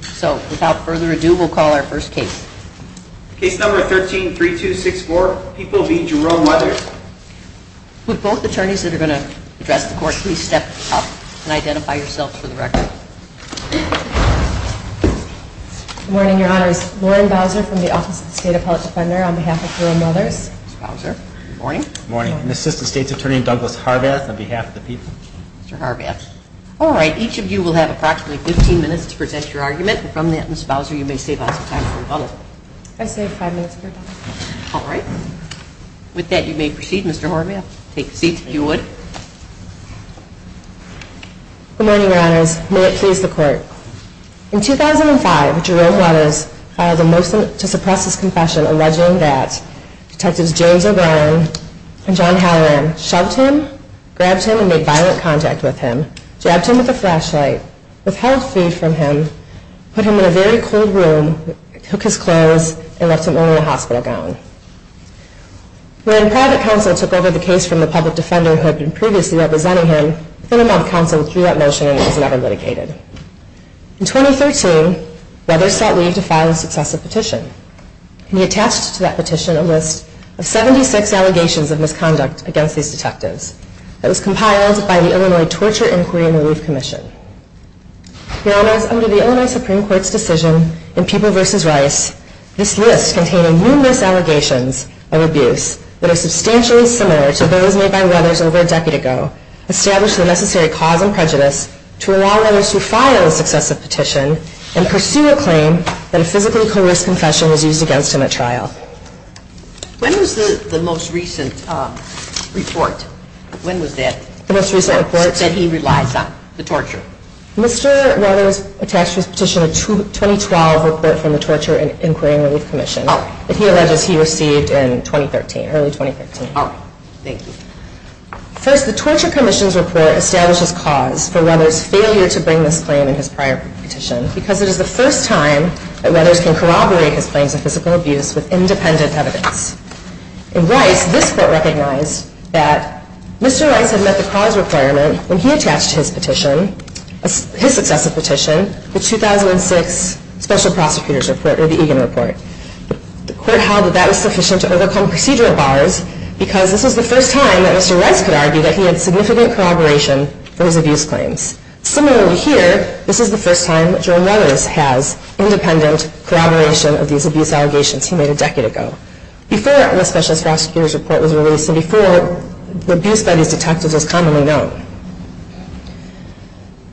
So, without further ado, we'll call our first case. Case number 13-3264, People v. Jerome Weathers. Would both attorneys that are going to address the court please step up and identify yourselves for the record. Good morning, your honors. Lauren Bowser from the Office of the State Appellate Defender on behalf of Jerome Weathers. Morning. Morning. And Assistant State's Attorney Douglas Harvath on behalf of the People. Mr. Harvath. All right. Each of you will have approximately 15 minutes to present your argument. And from that, Ms. Bowser, you may save us some time for rebuttal. I save five minutes for rebuttal. All right. With that, you may proceed, Mr. Harvath. Take the seats if you would. Good morning, your honors. May it please the court. In 2005, Jerome Weathers filed a motion to suppress his confession alleging that Detectives James O'Brien and John Halloran shoved him, grabbed him, and made violent contact with him, jabbed him with a flashlight, withheld food from him, put him in a very cold room, took his clothes, and left him only a hospital gown. When private counsel took over the case from the public defender who had been previously representing him, within a month, counsel withdrew that motion and it was never litigated. In 2013, Weathers sought leave to file a successive petition, and he attached to that petition a list of 76 allegations of misconduct against these detectives that was compiled by the Illinois Torture, Inquiry, and Relief Commission. Your honors, under the Illinois Supreme Court's decision in People v. Rice, this list contained numerous allegations of abuse that are substantially similar to those made by Weathers over a decade ago, established the necessary cause and prejudice to allow Weathers to file a successive petition and pursue a claim that a physically coerced confession was used against him at trial. When was the most recent report that he relies on? The torture? Mr. Weathers attached to his petition a 2012 report from the Torture, Inquiry, and Relief Commission that he alleges he received in early 2013. Thank you. First, the Torture Commission's report establishes cause for Weathers' failure to bring this claim in his prior petition because it is the first time that Weathers can corroborate his claims of physical abuse with independent evidence. In Rice, this court recognized that Mr. Rice had met the cause requirement when he attached to his petition, his successive petition, the 2006 Special Prosecutor's Report, or the Egan Report. The court held that that was sufficient to overcome procedural bars because this was the first time that Mr. Rice could argue that he had significant corroboration for his abuse claims. Similarly here, this is the first time that Jerome Weathers has independent corroboration of these abuse allegations he made a decade ago. This is before the Special Prosecutor's Report was released and before the abuse by these detectives was commonly known.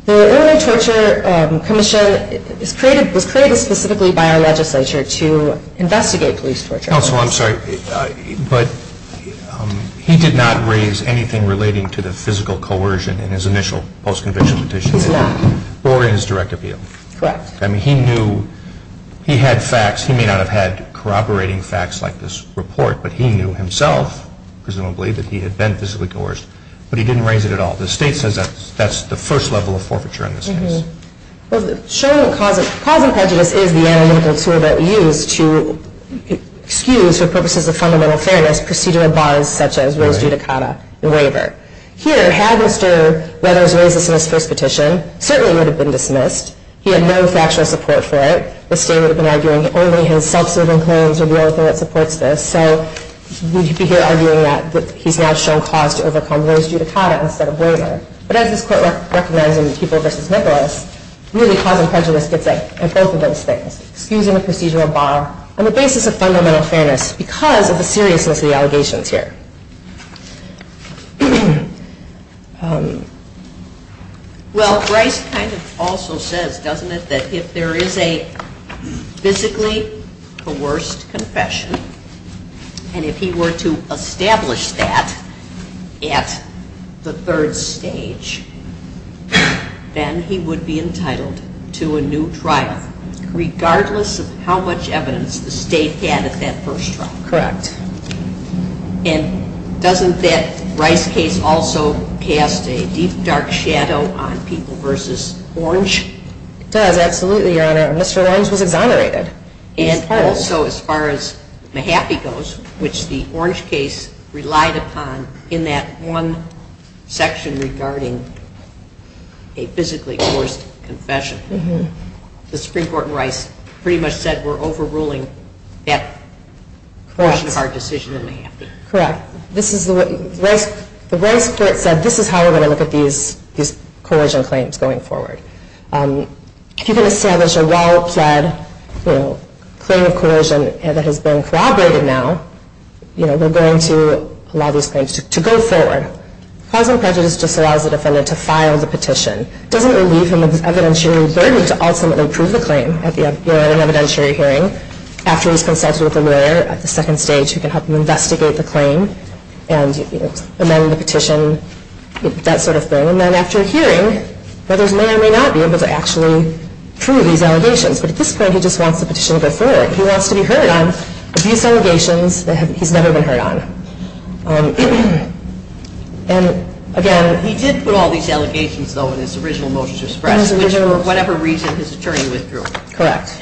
The Illinois Torture Commission was created specifically by our legislature to investigate police torture. Counsel, I'm sorry, but he did not raise anything relating to the physical coercion in his initial post-conviction petition? He did not. Or in his direct appeal? Correct. I mean, he knew he had facts. He may not have had corroborating facts like this report, but he knew himself, presumably, that he had been physically coerced. But he didn't raise it at all. The state says that's the first level of forfeiture in this case. Well, showing the cause of prejudice is the analytical tool that we use to excuse for purposes of fundamental fairness procedural bars such as Rose Giudicata and Waiver. Here, had Mr. Weathers raised this in his first petition, it certainly would have been dismissed. He had no factual support for it. The state would have been arguing only his self-serving claims are the only thing that supports this. So we'd be here arguing that he's now shown cause to overcome Rose Giudicata instead of Waiver. But as this Court recognizes in People v. Nicholas, really cause and prejudice gets at both of those things, excusing a procedural bar on the basis of fundamental fairness because of the seriousness of the allegations here. Well, Bryce kind of also says, doesn't it, that if there is a physically coerced confession and if he were to establish that at the third stage, then he would be entitled to a new trial regardless of how much evidence the state had at that first trial. Correct. And doesn't that Bryce case also cast a deep, dark shadow on People v. Orange? It does, absolutely, Your Honor. And Mr. Orange was exonerated. And also as far as Mahaffey goes, which the Orange case relied upon in that one section regarding a physically coerced confession. The Supreme Court in Rice pretty much said we're overruling that portion of our decision in Mahaffey. Correct. The Rice Court said this is how we're going to look at these coercion claims going forward. If you're going to establish a well-pled claim of coercion that has been corroborated now, we're going to allow these claims to go forward. Cause and prejudice just allows the defendant to file the petition. It doesn't relieve him of the evidentiary burden to ultimately prove the claim at an evidentiary hearing. After he's consulted with a lawyer at the second stage who can help him investigate the claim and amend the petition, that sort of thing. And then after a hearing, others may or may not be able to actually prove these allegations. But at this point, he just wants the petition to go forward. He wants to be heard on these allegations that he's never been heard on. He did put all these allegations, though, in his original motions of suppression, which for whatever reason his attorney withdrew. Correct.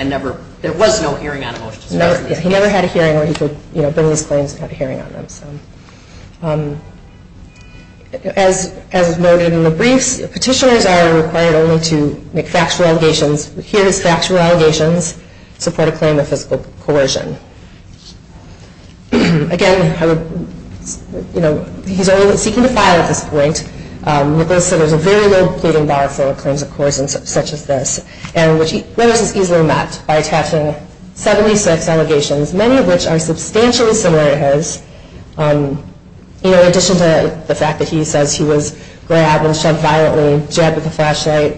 There was no hearing on the motions of suppression. He never had a hearing where he could bring these claims without a hearing on them. As noted in the briefs, petitioners are required only to make factual allegations, hear these factual allegations, support a claim of physical coercion. Again, he's only seeking to file at this point. There's a very low pleading bar for claims of coercion such as this. And this is easily met by attaching 76 allegations, many of which are substantially similar to his. In addition to the fact that he says he was grabbed and shoved violently, jabbed with a flashlight,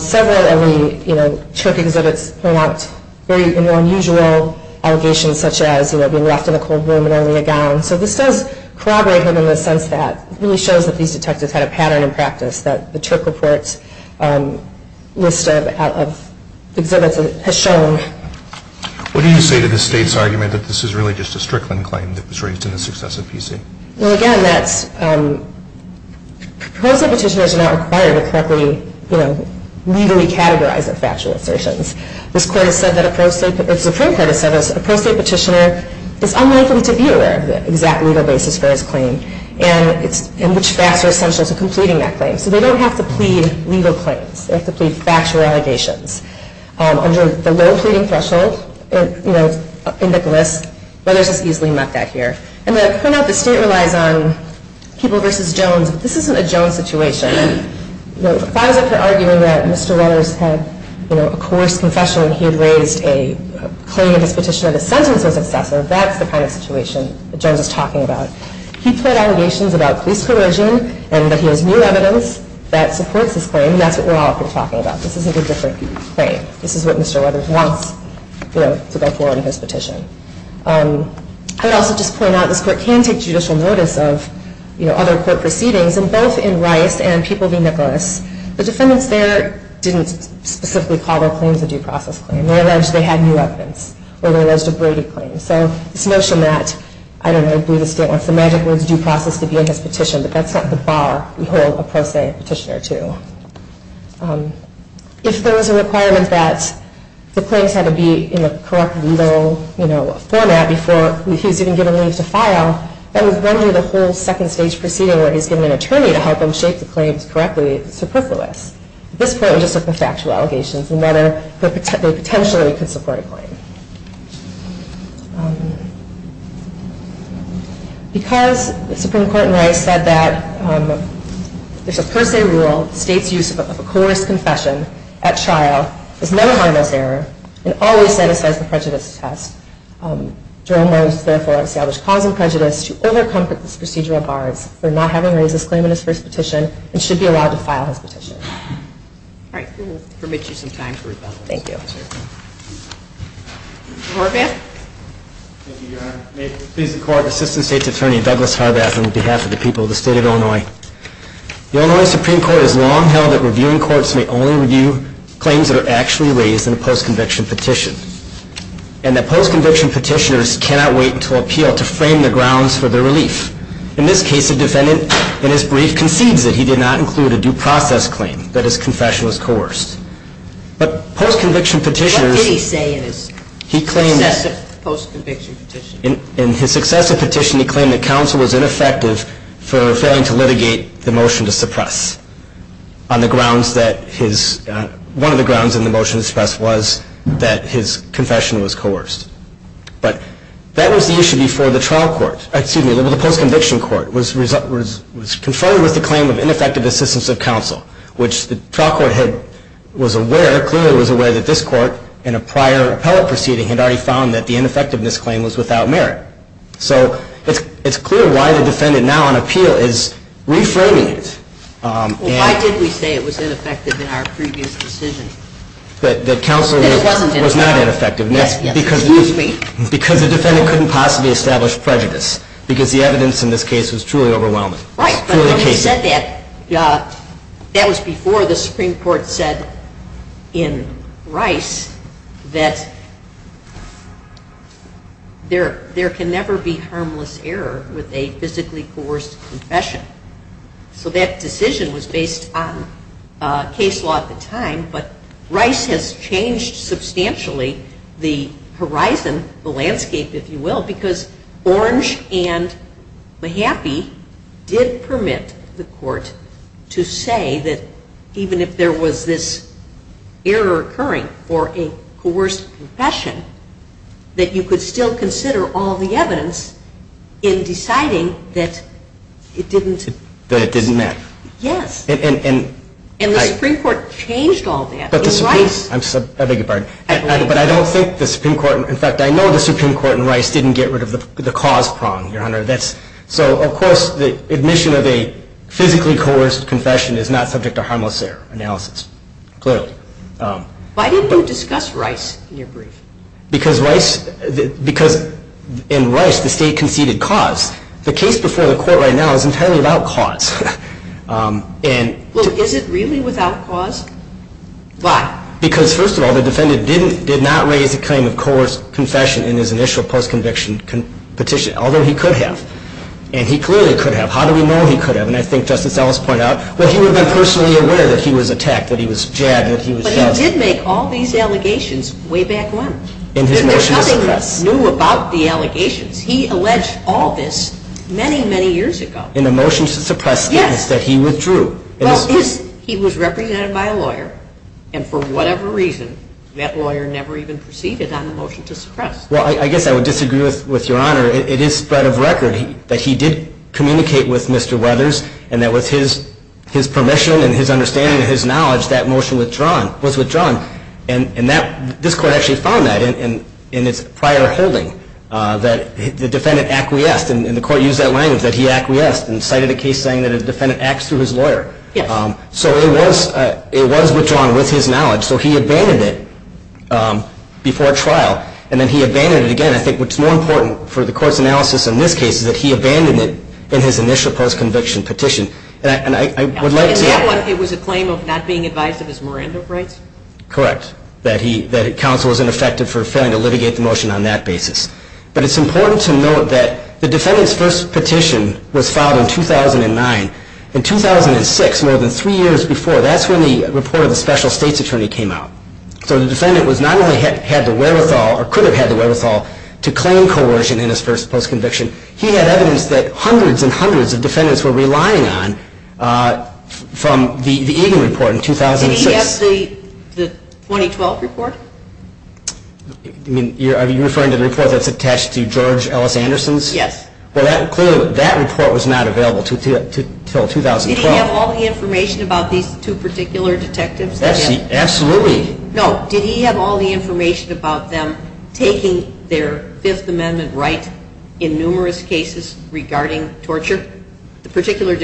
several of the Turk exhibits point out unusual allegations such as being left in a cold room and only a gown. So this does corroborate him in the sense that it really shows that these detectives had a pattern in practice, that the Turk report's list of exhibits has shown. What do you say to the state's argument that this is really just a Strickland claim that was raised in the success of PC? Well, again, pro-state petitioners are not required to correctly legally categorize their factual assertions. The Supreme Court has said that a pro-state petitioner is unlikely to be aware of the exact legal basis for his claim and which facts are essential to completing that claim. So they don't have to plead legal claims. They have to plead factual allegations. Under the low pleading threshold, it's in the glyphs, but it's just easily met back here. And then I point out the state relies on People v. Jones, but this isn't a Jones situation. If I was up for arguing that Mr. Weathers had a coerced confession when he had raised a claim in his petition and the sentence was excessive, that's the kind of situation that Jones is talking about. He pled allegations about police coercion and that he has new evidence that supports his claim, and that's what we're all up here talking about. This isn't a different claim. This is what Mr. Weathers wants to go for in his petition. I would also just point out this court can take judicial notice of other court proceedings, and both in Rice and People v. Nicholas, the defendants there didn't specifically call their claims a due process claim. They alleged they had new evidence, or they alleged a Brady claim. So this notion that, I don't know, the state wants the magic words due process to be in his petition, but that's not the bar we hold a pro-state petitioner to. If there was a requirement that the claims had to be in a correct legal format before he was even given leave to file, that would render the whole second stage proceeding where he's given an attorney to help him shape the claims correctly superfluous. At this point, we just look at the factual allegations and whether they potentially could support a claim. Because the Supreme Court in Rice said that there's a per se rule, the state's use of a coerced confession at trial is not a harmless error and always satisfies the prejudice test, Jerome Rose therefore established cause and prejudice to overcomfort this procedural bar for not having raised this claim in his first petition and should be allowed to file his petition. All right. We will permit you some time for rebuttal. Thank you. Mr. Horvath? Thank you, Your Honor. May it please the Court, Assistant State's Attorney Douglas Horvath on behalf of the people of the state of Illinois. The Illinois Supreme Court has long held that reviewing courts may only review claims that are actually raised in a post-conviction petition and that post-conviction petitioners cannot wait until appeal to frame the grounds for their relief. In this case, the defendant in his brief concedes that he did not include a due process claim, that his confession was coerced. But post-conviction petitioners. What did he say in his successive post-conviction petitions? In his successive petition, he claimed that counsel was ineffective for failing to litigate the motion to suppress on the grounds that his, one of the grounds in the motion to suppress was that his confession was coerced. But that was the issue before the trial court, excuse me, the post-conviction court was conferred with the claim of ineffective assistance of counsel, which the trial court was aware, clearly was aware that this court in a prior appellate proceeding had already found that the ineffectiveness claim was without merit. So it's clear why the defendant now on appeal is reframing it. Why did we say it was ineffective in our previous decision? That counsel was not ineffective. Excuse me. Because the defendant couldn't possibly establish prejudice. Because the evidence in this case was truly overwhelming. Right. When he said that, that was before the Supreme Court said in Rice that there can never be harmless error with a physically coerced confession. So that decision was based on case law at the time. But Rice has changed substantially the horizon, the landscape, if you will, because Orange and Mahaffey did permit the court to say that even if there was this error occurring for a coerced confession, that you could still consider all the evidence in deciding that it didn't. That it didn't matter. Yes. And the Supreme Court changed all that in Rice. I beg your pardon. But I don't think the Supreme Court, in fact, I know the Supreme Court in Rice didn't get rid of the cause prong, Your Honor. So, of course, the admission of a physically coerced confession is not subject to harmless error analysis, clearly. Why didn't you discuss Rice in your brief? Because in Rice the state conceded cause. The case before the court right now is entirely without cause. Well, is it really without cause? Why? Because, first of all, the defendant did not raise the claim of coerced confession in his initial post-conviction petition, although he could have. And he clearly could have. How do we know he could have? And I think Justice Ellis pointed out, well, he would have been personally aware that he was attacked, that he was jabbed, that he was shot. But he did make all these allegations way back when. In his motion to suppress. And there's nothing new about the allegations. He alleged all this many, many years ago. In the motion to suppress, yes, that he withdrew. Well, he was represented by a lawyer. And for whatever reason, that lawyer never even proceeded on the motion to suppress. Well, I guess I would disagree with Your Honor. It is spread of record that he did communicate with Mr. Weathers, and that with his permission and his understanding and his knowledge, that motion was withdrawn. And this court actually found that in its prior holding, that the defendant acquiesced. And the court used that language, that he acquiesced, and cited a case saying that a defendant acts through his lawyer. So it was withdrawn with his knowledge. So he abandoned it before trial. And then he abandoned it again. I think what's more important for the court's analysis in this case is that he abandoned it in his initial post-conviction petition. And I would like to ask. In that one, it was a claim of not being advised of his Miranda rights? Correct. That counsel was ineffective for failing to litigate the motion on that basis. But it's important to note that the defendant's first petition was filed in 2009. In 2006, more than three years before, that's when the report of the special state's attorney came out. So the defendant not only had the wherewithal, or could have had the wherewithal, to claim coercion in his first post-conviction, he had evidence that hundreds and hundreds of defendants were relying on from the Egan report in 2006. Did he have the 2012 report? Are you referring to the report that's attached to George Ellis Anderson's? Yes. Well, clearly, that report was not available until 2012. Did he have all the information about these two particular detectives? Absolutely. No. Did he have all the information about them taking their Fifth Amendment right in numerous cases regarding torture? The particular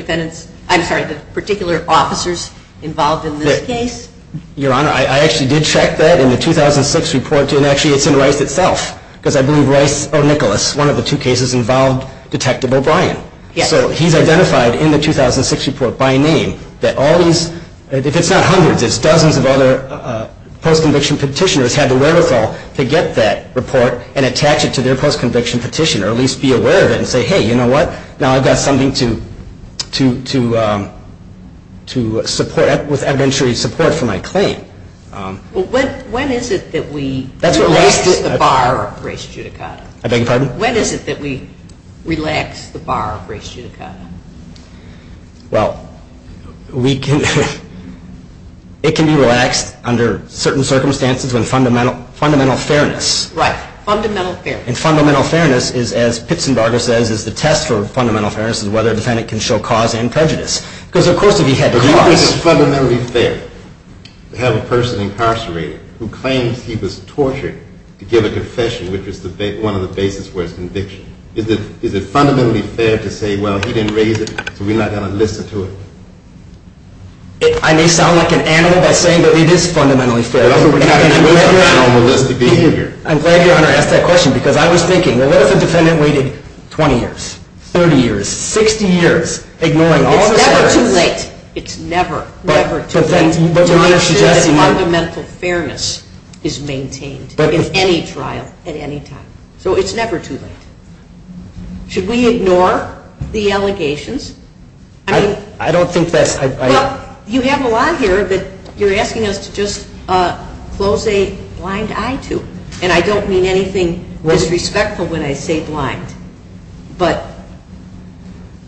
officers involved in this case? Your Honor, I actually did check that in the 2006 report, and actually it's in Rice itself, because I believe Rice or Nicholas, one of the two cases involved Detective O'Brien. So he's identified in the 2006 report by name that all these, if it's not hundreds, it's dozens of other post-conviction petitioners had the wherewithal to get that report and attach it to their post-conviction petition, or at least be aware of it and say, hey, you know what, now I've got something to support, with evidentiary support for my claim. Well, when is it that we relax the bar of race judicata? I beg your pardon? When is it that we relax the bar of race judicata? Well, it can be relaxed under certain circumstances when fundamental fairness. Right, fundamental fairness. And fundamental fairness is, as Pitsenbarger says, is the test for fundamental fairness is whether a defendant can show cause and prejudice. Because of course, if he had cause. But isn't it fundamentally fair to have a person incarcerated who claims he was tortured to give a confession, which was one of the basis for his conviction? Is it fundamentally fair to say, well, he didn't raise it, so we're not going to listen to it? I may sound like an animal by saying that it is fundamentally fair. But also, we've got a completely animalistic behavior. I'm glad Your Honor asked that question. Because I was thinking, well, what if a defendant waited 20 years, 30 years, 60 years, ignoring all of the standards? It's never too late. It's never, never too late. Your Honor is suggesting that fundamental fairness is maintained in any trial, at any time. So it's never too late. Should we ignore the allegations? I don't think that's... Well, you have a lot here that you're asking us to just close a blind eye to. And I don't mean anything disrespectful when I say blind. But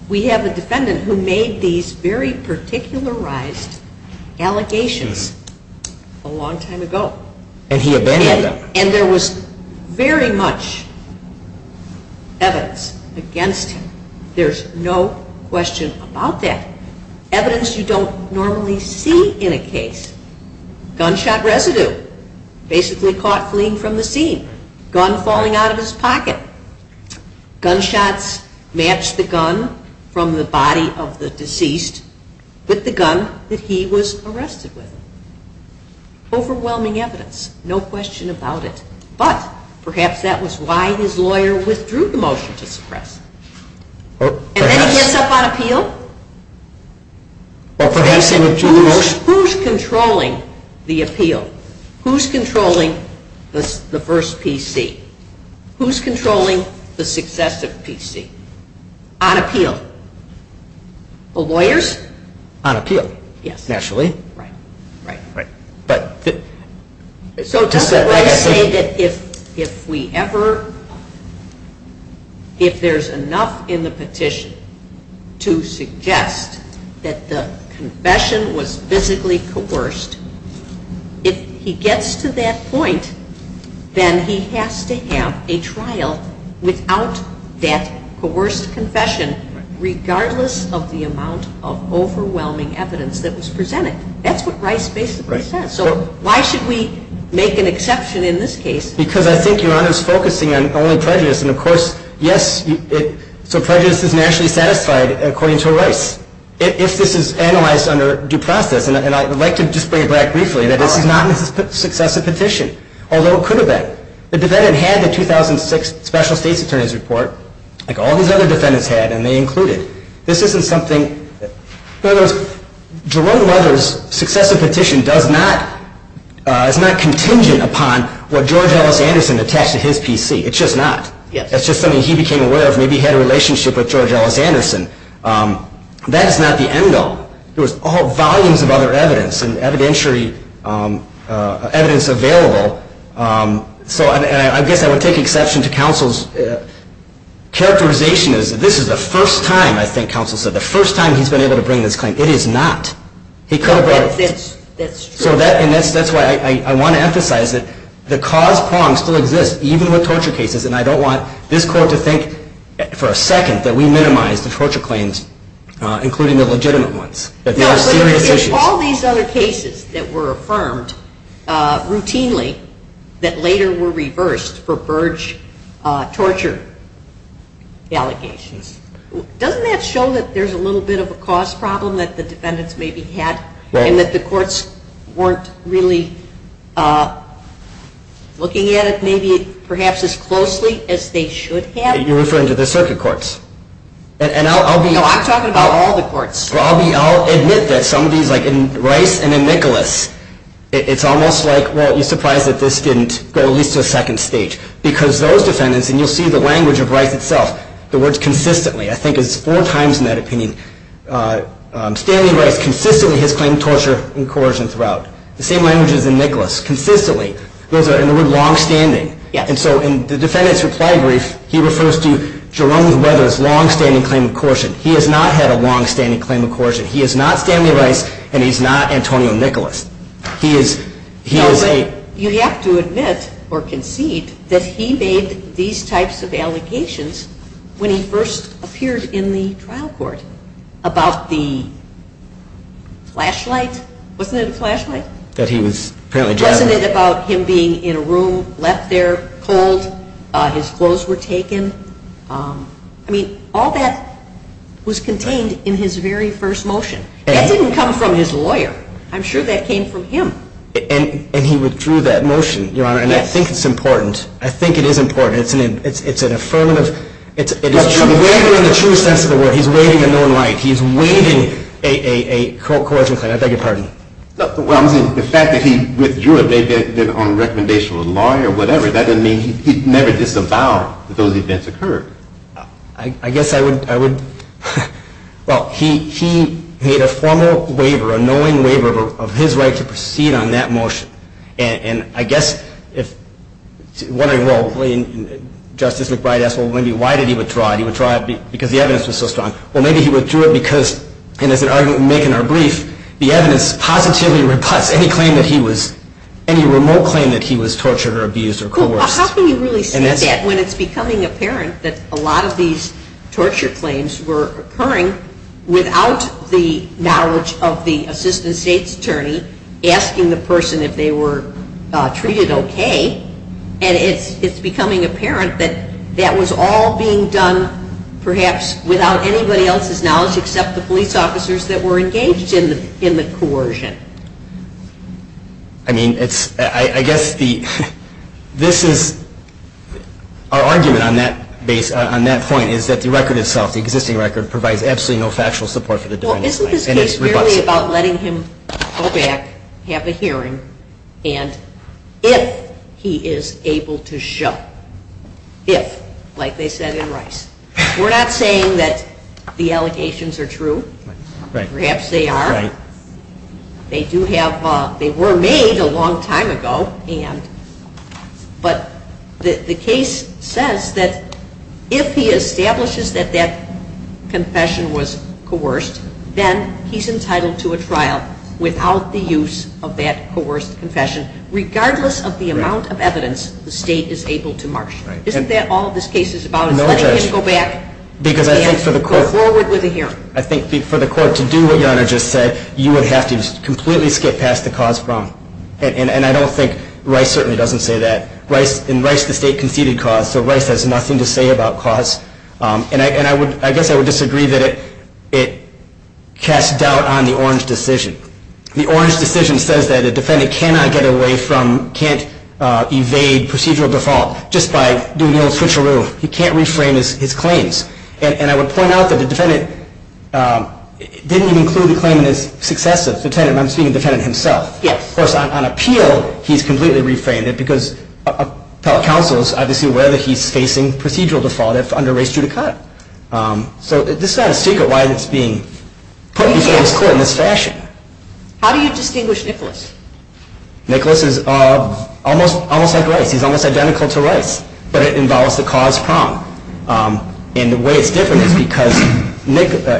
we have a defendant who made these very particularized allegations a long time ago. And he abandoned them. And there was very much evidence against him. There's no question about that. Evidence you don't normally see in a case. Gunshot residue. Basically caught fleeing from the scene. Gun falling out of his pocket. Gunshots matched the gun from the body of the deceased with the gun that he was arrested with. Overwhelming evidence. No question about it. But perhaps that was why his lawyer withdrew the motion to suppress. And then he gets up on appeal? Who's controlling the appeal? Who's controlling the first PC? Who's controlling the successive PC? On appeal? The lawyers? On appeal. Naturally. Right. So just to say that if we ever, if there's enough in the petition to suggest that the confession was physically coerced, if he gets to that point, then he has to have a trial without that coerced confession, regardless of the amount of overwhelming evidence that was presented. That's what Rice basically says. So why should we make an exception in this case? Because I think Your Honor is focusing on only prejudice. And, of course, yes, so prejudice is nationally satisfied according to Rice. If this is analyzed under due process, and I would like to just bring it back briefly, that this is not a successive petition, although it could have been. The defendant had the 2006 special state's attorney's report, like all these other defendants had, and they include it. This isn't something. In other words, Jerome Mothers' successive petition does not, is not contingent upon what George Ellis Anderson attached to his PC. It's just not. It's just something he became aware of. Maybe he had a relationship with George Ellis Anderson. That is not the end all. There was volumes of other evidence and evidentiary evidence available. So I guess I would take exception to counsel's characterization. This is the first time, I think counsel said, the first time he's been able to bring this claim. It is not. He could have brought it. That's true. And that's why I want to emphasize that the cause prong still exists, even with torture cases. And I don't want this Court to think for a second that we minimize the torture claims, including the legitimate ones, that they are serious issues. Of all these other cases that were affirmed routinely that later were reversed for Burge torture allegations, doesn't that show that there's a little bit of a cause problem that the defendants maybe had and that the courts weren't really looking at it maybe perhaps as closely as they should have? You're referring to the circuit courts. Well, I'll admit that some of these, like in Rice and in Nicholas, it's almost like, well, you're surprised that this didn't go at least to a second stage. Because those defendants, and you'll see the language of Rice itself, the words consistently, I think it's four times in that opinion, Stanley Rice consistently has claimed torture and coercion throughout. The same language is in Nicholas, consistently. Those are in the word longstanding. And so in the defendant's reply brief, he refers to Jerome Weathers' longstanding claim of coercion. He has not had a longstanding claim of coercion. He is not Stanley Rice and he's not Antonio Nicholas. He is a- No, but you have to admit or concede that he made these types of allegations when he first appeared in the trial court about the flashlight. Wasn't it a flashlight? That he was apparently driving- Wasn't it about him being in a room, left there, cold, his clothes were taken? I mean, all that was contained in his very first motion. That didn't come from his lawyer. I'm sure that came from him. And he withdrew that motion, Your Honor, and I think it's important. I think it is important. It's an affirmative. It is true. He's waiving a known right. He's waiving a coercion claim. I beg your pardon. Well, I'm saying the fact that he withdrew it, maybe on recommendation of a lawyer or whatever, that doesn't mean he never disavowed that those events occurred. I guess I would- Well, he made a formal waiver, a knowing waiver of his right to proceed on that motion. And I guess if- I'm wondering, well, Justice McBride asked, well, why did he withdraw it? He withdrew it because the evidence was so strong. Well, maybe he withdrew it because, and as we make in our brief, the evidence positively reputs any claim that he was, any remote claim that he was tortured or abused or coerced. Well, how can you really say that when it's becoming apparent that a lot of these torture claims were occurring without the knowledge of the assistant state's attorney asking the person if they were treated okay? And it's becoming apparent that that was all being done perhaps without anybody else's knowledge except the police officers that were engaged in the coercion. I mean, it's, I guess the, this is, our argument on that point is that the record itself, the existing record, provides absolutely no factual support for the divination. Well, isn't this case really about letting him go back, have a hearing, and if he is able to show, if, like they said in Rice. We're not saying that the allegations are true. Perhaps they are. They do have, they were made a long time ago and, but the case says that if he establishes that that confession was coerced, then he's entitled to a trial without the use of that coerced confession, regardless of the amount of evidence the state is able to marsh. Isn't that all this case is about, is letting him go back and go forward with a hearing? I think for the court to do what Your Honor just said, you would have to completely skip past the cause from. And I don't think, Rice certainly doesn't say that. In Rice, the state conceded cause, so Rice has nothing to say about cause. And I guess I would disagree that it casts doubt on the Orange decision. The Orange decision says that a defendant cannot get away from, can't evade procedural default just by doing the old switcheroo. He can't reframe his claims. And I would point out that the defendant didn't even include the claim in his successive. I'm speaking of the defendant himself. Of course, on appeal, he's completely reframed it because appellate counsel is obviously aware that he's facing procedural default if under race judicata. So this is not a secret why it's being put before this court in this fashion. How do you distinguish Nicholas? Nicholas is almost like Rice. He's almost identical to Rice, but it involves the cause prong. And the way it's different is because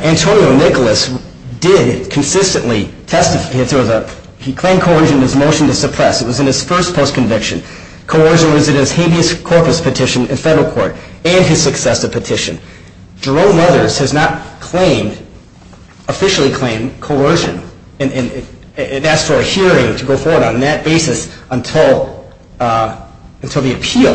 Antonio Nicholas did consistently testify. He claimed coercion in his motion to suppress. It was in his first post-conviction. Coercion was in his habeas corpus petition in federal court and his successive petition. Jerome Mothers has not officially claimed coercion and asked for a hearing to go forward on that basis until the appeal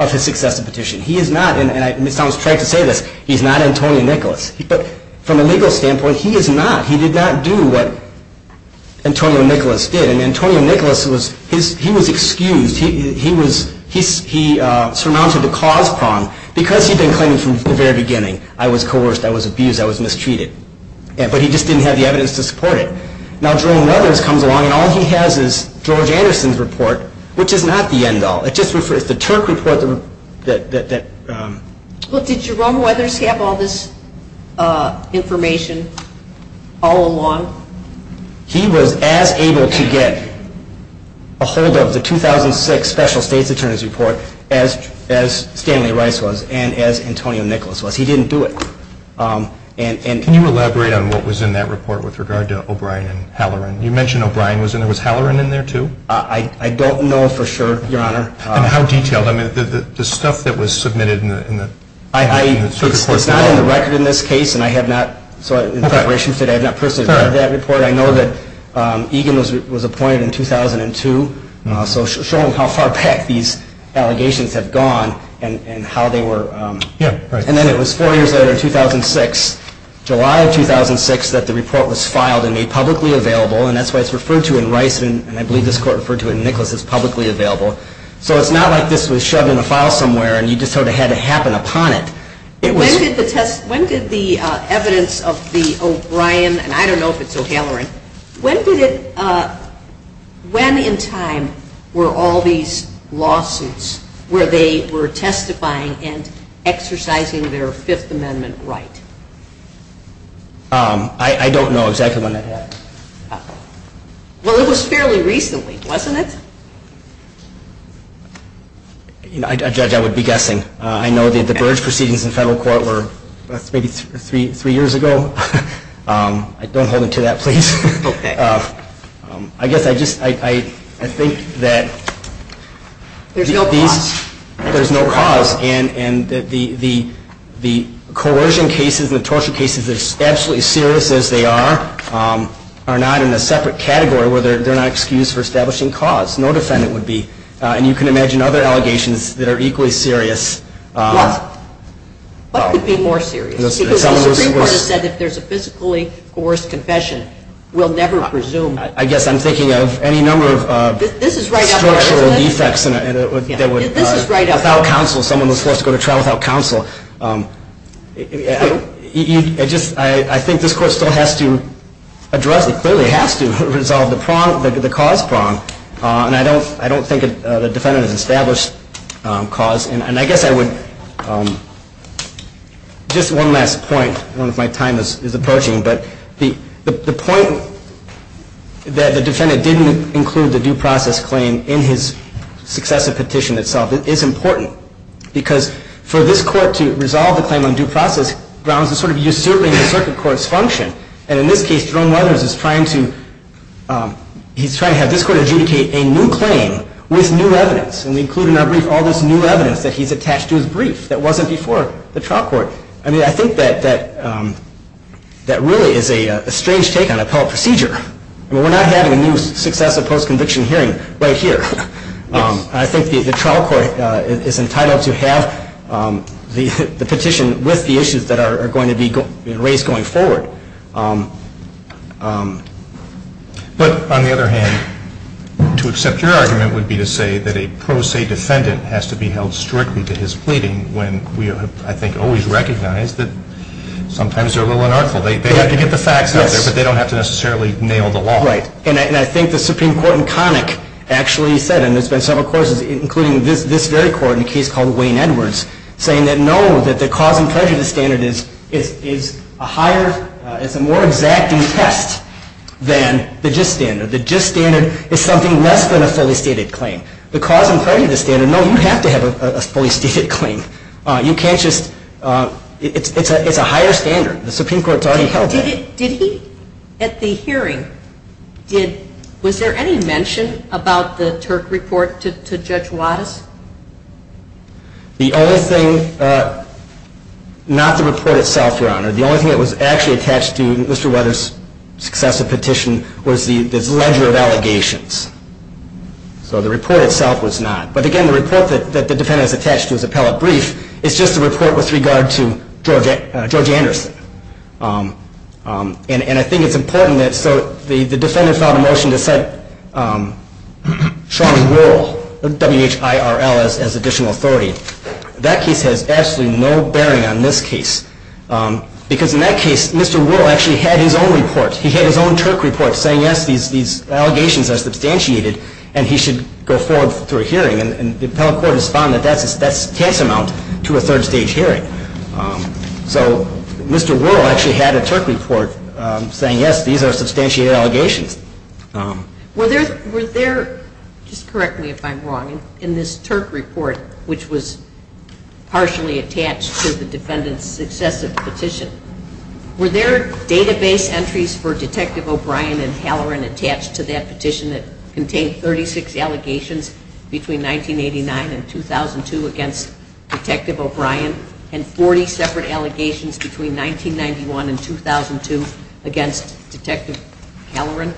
of his successive petition. He is not, and Ms. Thomas tried to say this, he's not Antonio Nicholas. But from a legal standpoint, he is not. He did not do what Antonio Nicholas did. And Antonio Nicholas, he was excused. He surmounted the cause prong because he'd been claiming from the very beginning, I was coerced. I was abused. I was mistreated. But he just didn't have the evidence to support it. Now Jerome Mothers comes along and all he has is George Anderson's report, which is not the end all. It just refers to the Turk report. Well, did Jerome Mothers have all this information all along? He was as able to get a hold of the 2006 special state's attorney's report as Stanley Rice was and as Antonio Nicholas was. He didn't do it. Can you elaborate on what was in that report with regard to O'Brien and Halloran? You mentioned O'Brien. Was Halloran in there too? I don't know for sure, Your Honor. And how detailed? I mean, the stuff that was submitted in the Turk report. It's not on the record in this case, and I have not, in preparation for today, I have not personally read that report. I know that Egan was appointed in 2002. So show them how far back these allegations have gone and how they were. And then it was four years later in 2006, July of 2006, that the report was filed and made publicly available, and that's why it's referred to in Rice, and I believe this Court referred to it in Nicholas as publicly available. So it's not like this was shoved in a file somewhere and you just sort of had to happen upon it. When did the evidence of the O'Brien, and I don't know if it's O'Halloran, when in time were all these lawsuits where they were testifying and exercising their Fifth Amendment right? I don't know exactly when that happened. Well, it was fairly recently, wasn't it? A judge, I would be guessing. I know that the Burge proceedings in federal court were maybe three years ago. Don't hold onto that, please. Okay. I guess I just, I think that there's no cause, and the coercion cases and the torture cases, they're absolutely as serious as they are, are not in a separate category where they're not excused for establishing cause. No defendant would be. And you can imagine other allegations that are equally serious. What? What could be more serious? Because the Supreme Court has said if there's a physically coerced confession, we'll never presume. I guess I'm thinking of any number of structural defects that would, without counsel, someone was forced to go to trial without counsel. I think this Court still has to address, it clearly has to resolve the cause prong, and I don't think the defendant has established cause. And I guess I would, just one last point, one of my time is approaching, but the point that the defendant didn't include the due process claim in his successive petition itself is important, because for this Court to resolve the claim on due process grounds a sort of usurping the circuit court's function. And in this case, Jerome Weathers is trying to, he's trying to have this Court adjudicate a new claim with new evidence. And we include in our brief all this new evidence that he's attached to his brief that wasn't before the trial court. I mean, I think that really is a strange take on appellate procedure. I mean, we're not having a new successive post-conviction hearing right here. I think the trial court is entitled to have the petition with the issues that are going to be raised going forward. But on the other hand, to accept your argument would be to say that a pro se defendant has to be held strictly to his pleading when we have, I think, always recognized that sometimes they're a little unartful. They have to get the facts out there, but they don't have to necessarily nail the law. Right. And I think the Supreme Court in Connick actually said, and there's been several courses, including this very Court in a case called Wayne Edwards, saying that no, that the cause and prejudice standard is a higher, it's a more exacting test than the gist standard. The gist standard is something less than a fully stated claim. The cause and prejudice standard, no, you have to have a fully stated claim. You can't just, it's a higher standard. The Supreme Court's already held that. Did he, at the hearing, was there any mention about the Turk report to Judge Wattis? The only thing, not the report itself, Your Honor, the only thing that was actually attached to Mr. Weather's successive petition was this ledger of allegations. So the report itself was not. But again, the report that the defendant is attached to is appellate brief. It's just a report with regard to George Anderson. And I think it's important that, so the defendant filed a motion to cite Sean Whirl, W-H-I-R-L, as additional authority. That case has absolutely no bearing on this case. Because in that case, Mr. Whirl actually had his own report. He had his own Turk report saying, yes, these allegations are substantiated, and he should go forward through a hearing. And the appellate court has found that that's tantamount to a third-stage hearing. So Mr. Whirl actually had a Turk report saying, yes, these are substantiated allegations. Were there, just correct me if I'm wrong, in this Turk report, which was partially attached to the defendant's successive petition, were there database entries for Detective O'Brien and Halloran attached to that petition that contained 36 allegations between 1989 and 2002 against Detective O'Brien and 40 separate allegations between 1991 and 2002 against Detective Halloran?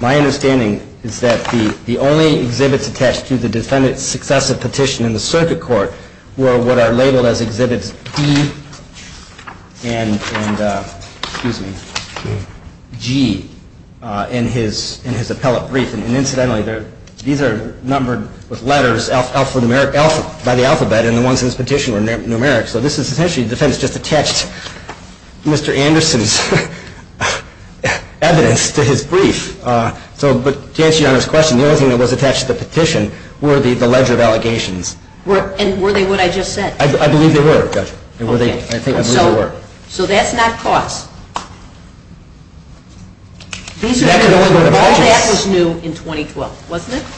My understanding is that the only exhibits attached to the defendant's successive petition in the circuit court were what are labeled as Exhibits D and G in his appellate brief. And incidentally, these are numbered with letters by the alphabet, and the ones in his petition were numeric. So this is essentially the defense just attached Mr. Anderson's evidence to his brief. But to answer Your Honor's question, the only thing that was attached to the petition were the ledger of allegations. And were they what I just said? I believe they were, Judge. So that's not false. All that was new in 2012, wasn't it?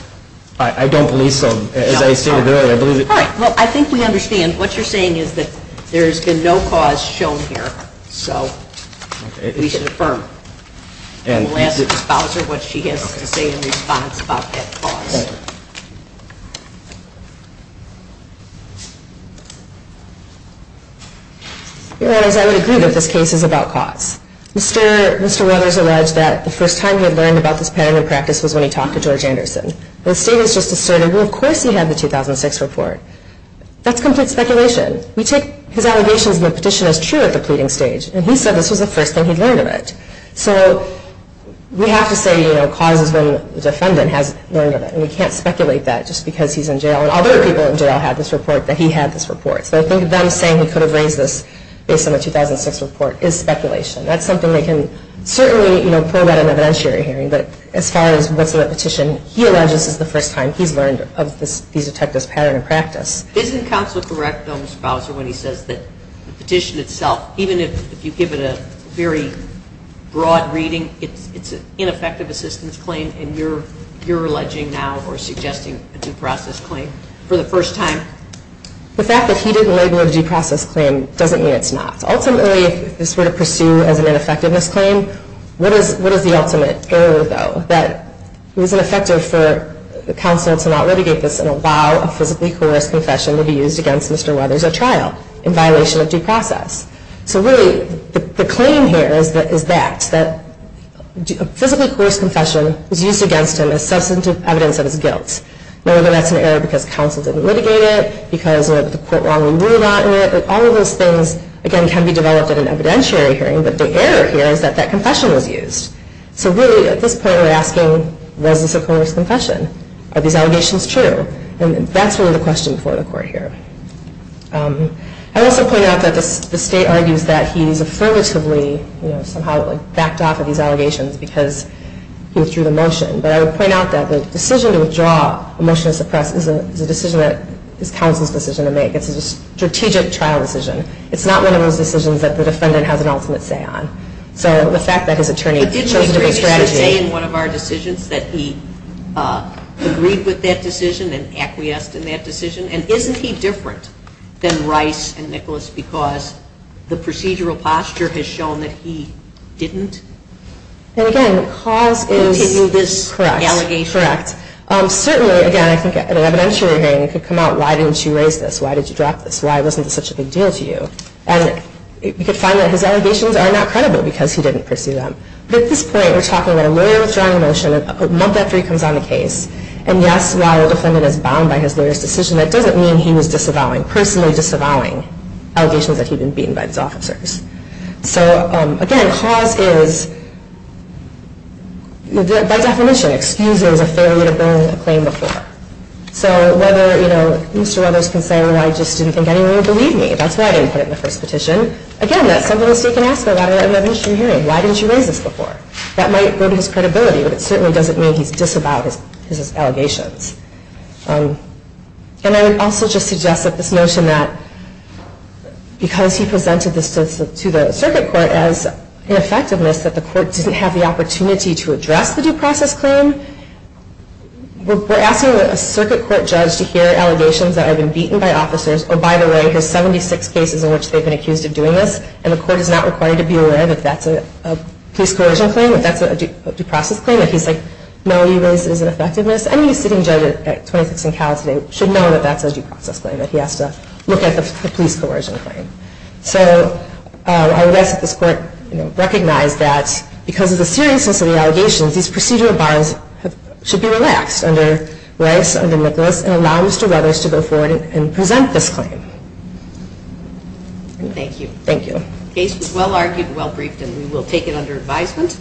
I don't believe so. All right, well, I think we understand. What you're saying is that there's been no cause shown here. So we should affirm. And we'll ask the spouser what she has to say in response about that cause. Your Honor, I would agree that this case is about cause. Mr. Weathers alleged that the first time he had learned about this pattern of practice was when he talked to George Anderson. But the state has just asserted, well, of course he had the 2006 report. That's complete speculation. We take his allegations in the petition as true at the pleading stage. And he said this was the first thing he'd learned of it. So we have to say, you know, cause is when the defendant has learned of it. And we can't speculate that just because he's in jail. And other people in jail had this report that he had this report. So I think them saying he could have raised this based on the 2006 report is speculation. That's something they can certainly, you know, probe at an evidentiary hearing. But as far as what's in the petition, he alleges this is the first time he's learned of these detectives' pattern of practice. Doesn't counsel correct the spouser when he says that the petition itself, even if you give it a very broad reading, it's an ineffective assistance claim, and you're alleging now or suggesting a due process claim for the first time? The fact that he didn't label it a due process claim doesn't mean it's not. Ultimately, if this were to pursue as an ineffectiveness claim, what is the ultimate error, though? That it was ineffective for counsel to not litigate this and allow a physically coerced confession to be used against Mr. Weathers at trial in violation of due process. So really, the claim here is that a physically coerced confession was used against him as substantive evidence of his guilt. Whether that's an error because counsel didn't litigate it, because the court wrongly ruled on it, all of those things, again, can be developed at an evidentiary hearing. But the error here is that that confession was used. So really, at this point, we're asking, was this a coerced confession? Are these allegations true? And that's really the question for the court here. I also point out that the state argues that he's affirmatively somehow backed off of these allegations because he withdrew the motion. But I would point out that the decision to withdraw a motion to suppress is a decision that is counsel's decision to make. It's a strategic trial decision. It's not one of those decisions that the defendant has an ultimate say on. So the fact that his attorney chose a different strategy... But didn't he previously say in one of our decisions that he agreed with that decision and acquiesced in that decision? And isn't he different than Rice and Nicholas because the procedural posture has shown that he didn't continue this allegation? Correct. Certainly, again, I think at an evidentiary hearing, it could come out, why didn't you raise this? Why did you drop this? Why wasn't this such a big deal to you? And we could find that his allegations are not credible because he didn't pursue them. But at this point, we're talking about a lawyer withdrawing a motion a month after he comes on the case. And yes, while the defendant is bound by his lawyer's decision, that doesn't mean he was disavowing, personally disavowing, allegations that he'd been beaten by his officers. So again, cause is, by definition, excuses a failure to bring a claim before. So whether, you know, Mr. Weathers can say, well, I just didn't think anyone would believe me. That's why I didn't put it in the first petition. Again, that's something we can ask at an evidentiary hearing. Why didn't you raise this before? That might burden his credibility, but it certainly doesn't mean he's disavowed his allegations. And I would also just suggest that this notion that because he presented this to the circuit court as an effectiveness, that the court didn't have the opportunity to address the due process claim, we're asking a circuit court judge to hear allegations that have been beaten by officers. Oh, by the way, there's 76 cases in which they've been accused of doing this, and the court is not required to be aware that that's a police coercion claim, that that's a due process claim. If he's like, no, you raised it as an effectiveness, any sitting judge at 26 and Cal today should know that that's a due process claim, that he has to look at the police coercion claim. So I would ask that this court recognize that because of the seriousness of the allegations, these procedural bars should be relaxed under Rice, under Nicholas, and allow Mr. Ruthers to go forward and present this claim. Thank you. Thank you. The case was well-argued, well-briefed, and we will take it under advisement.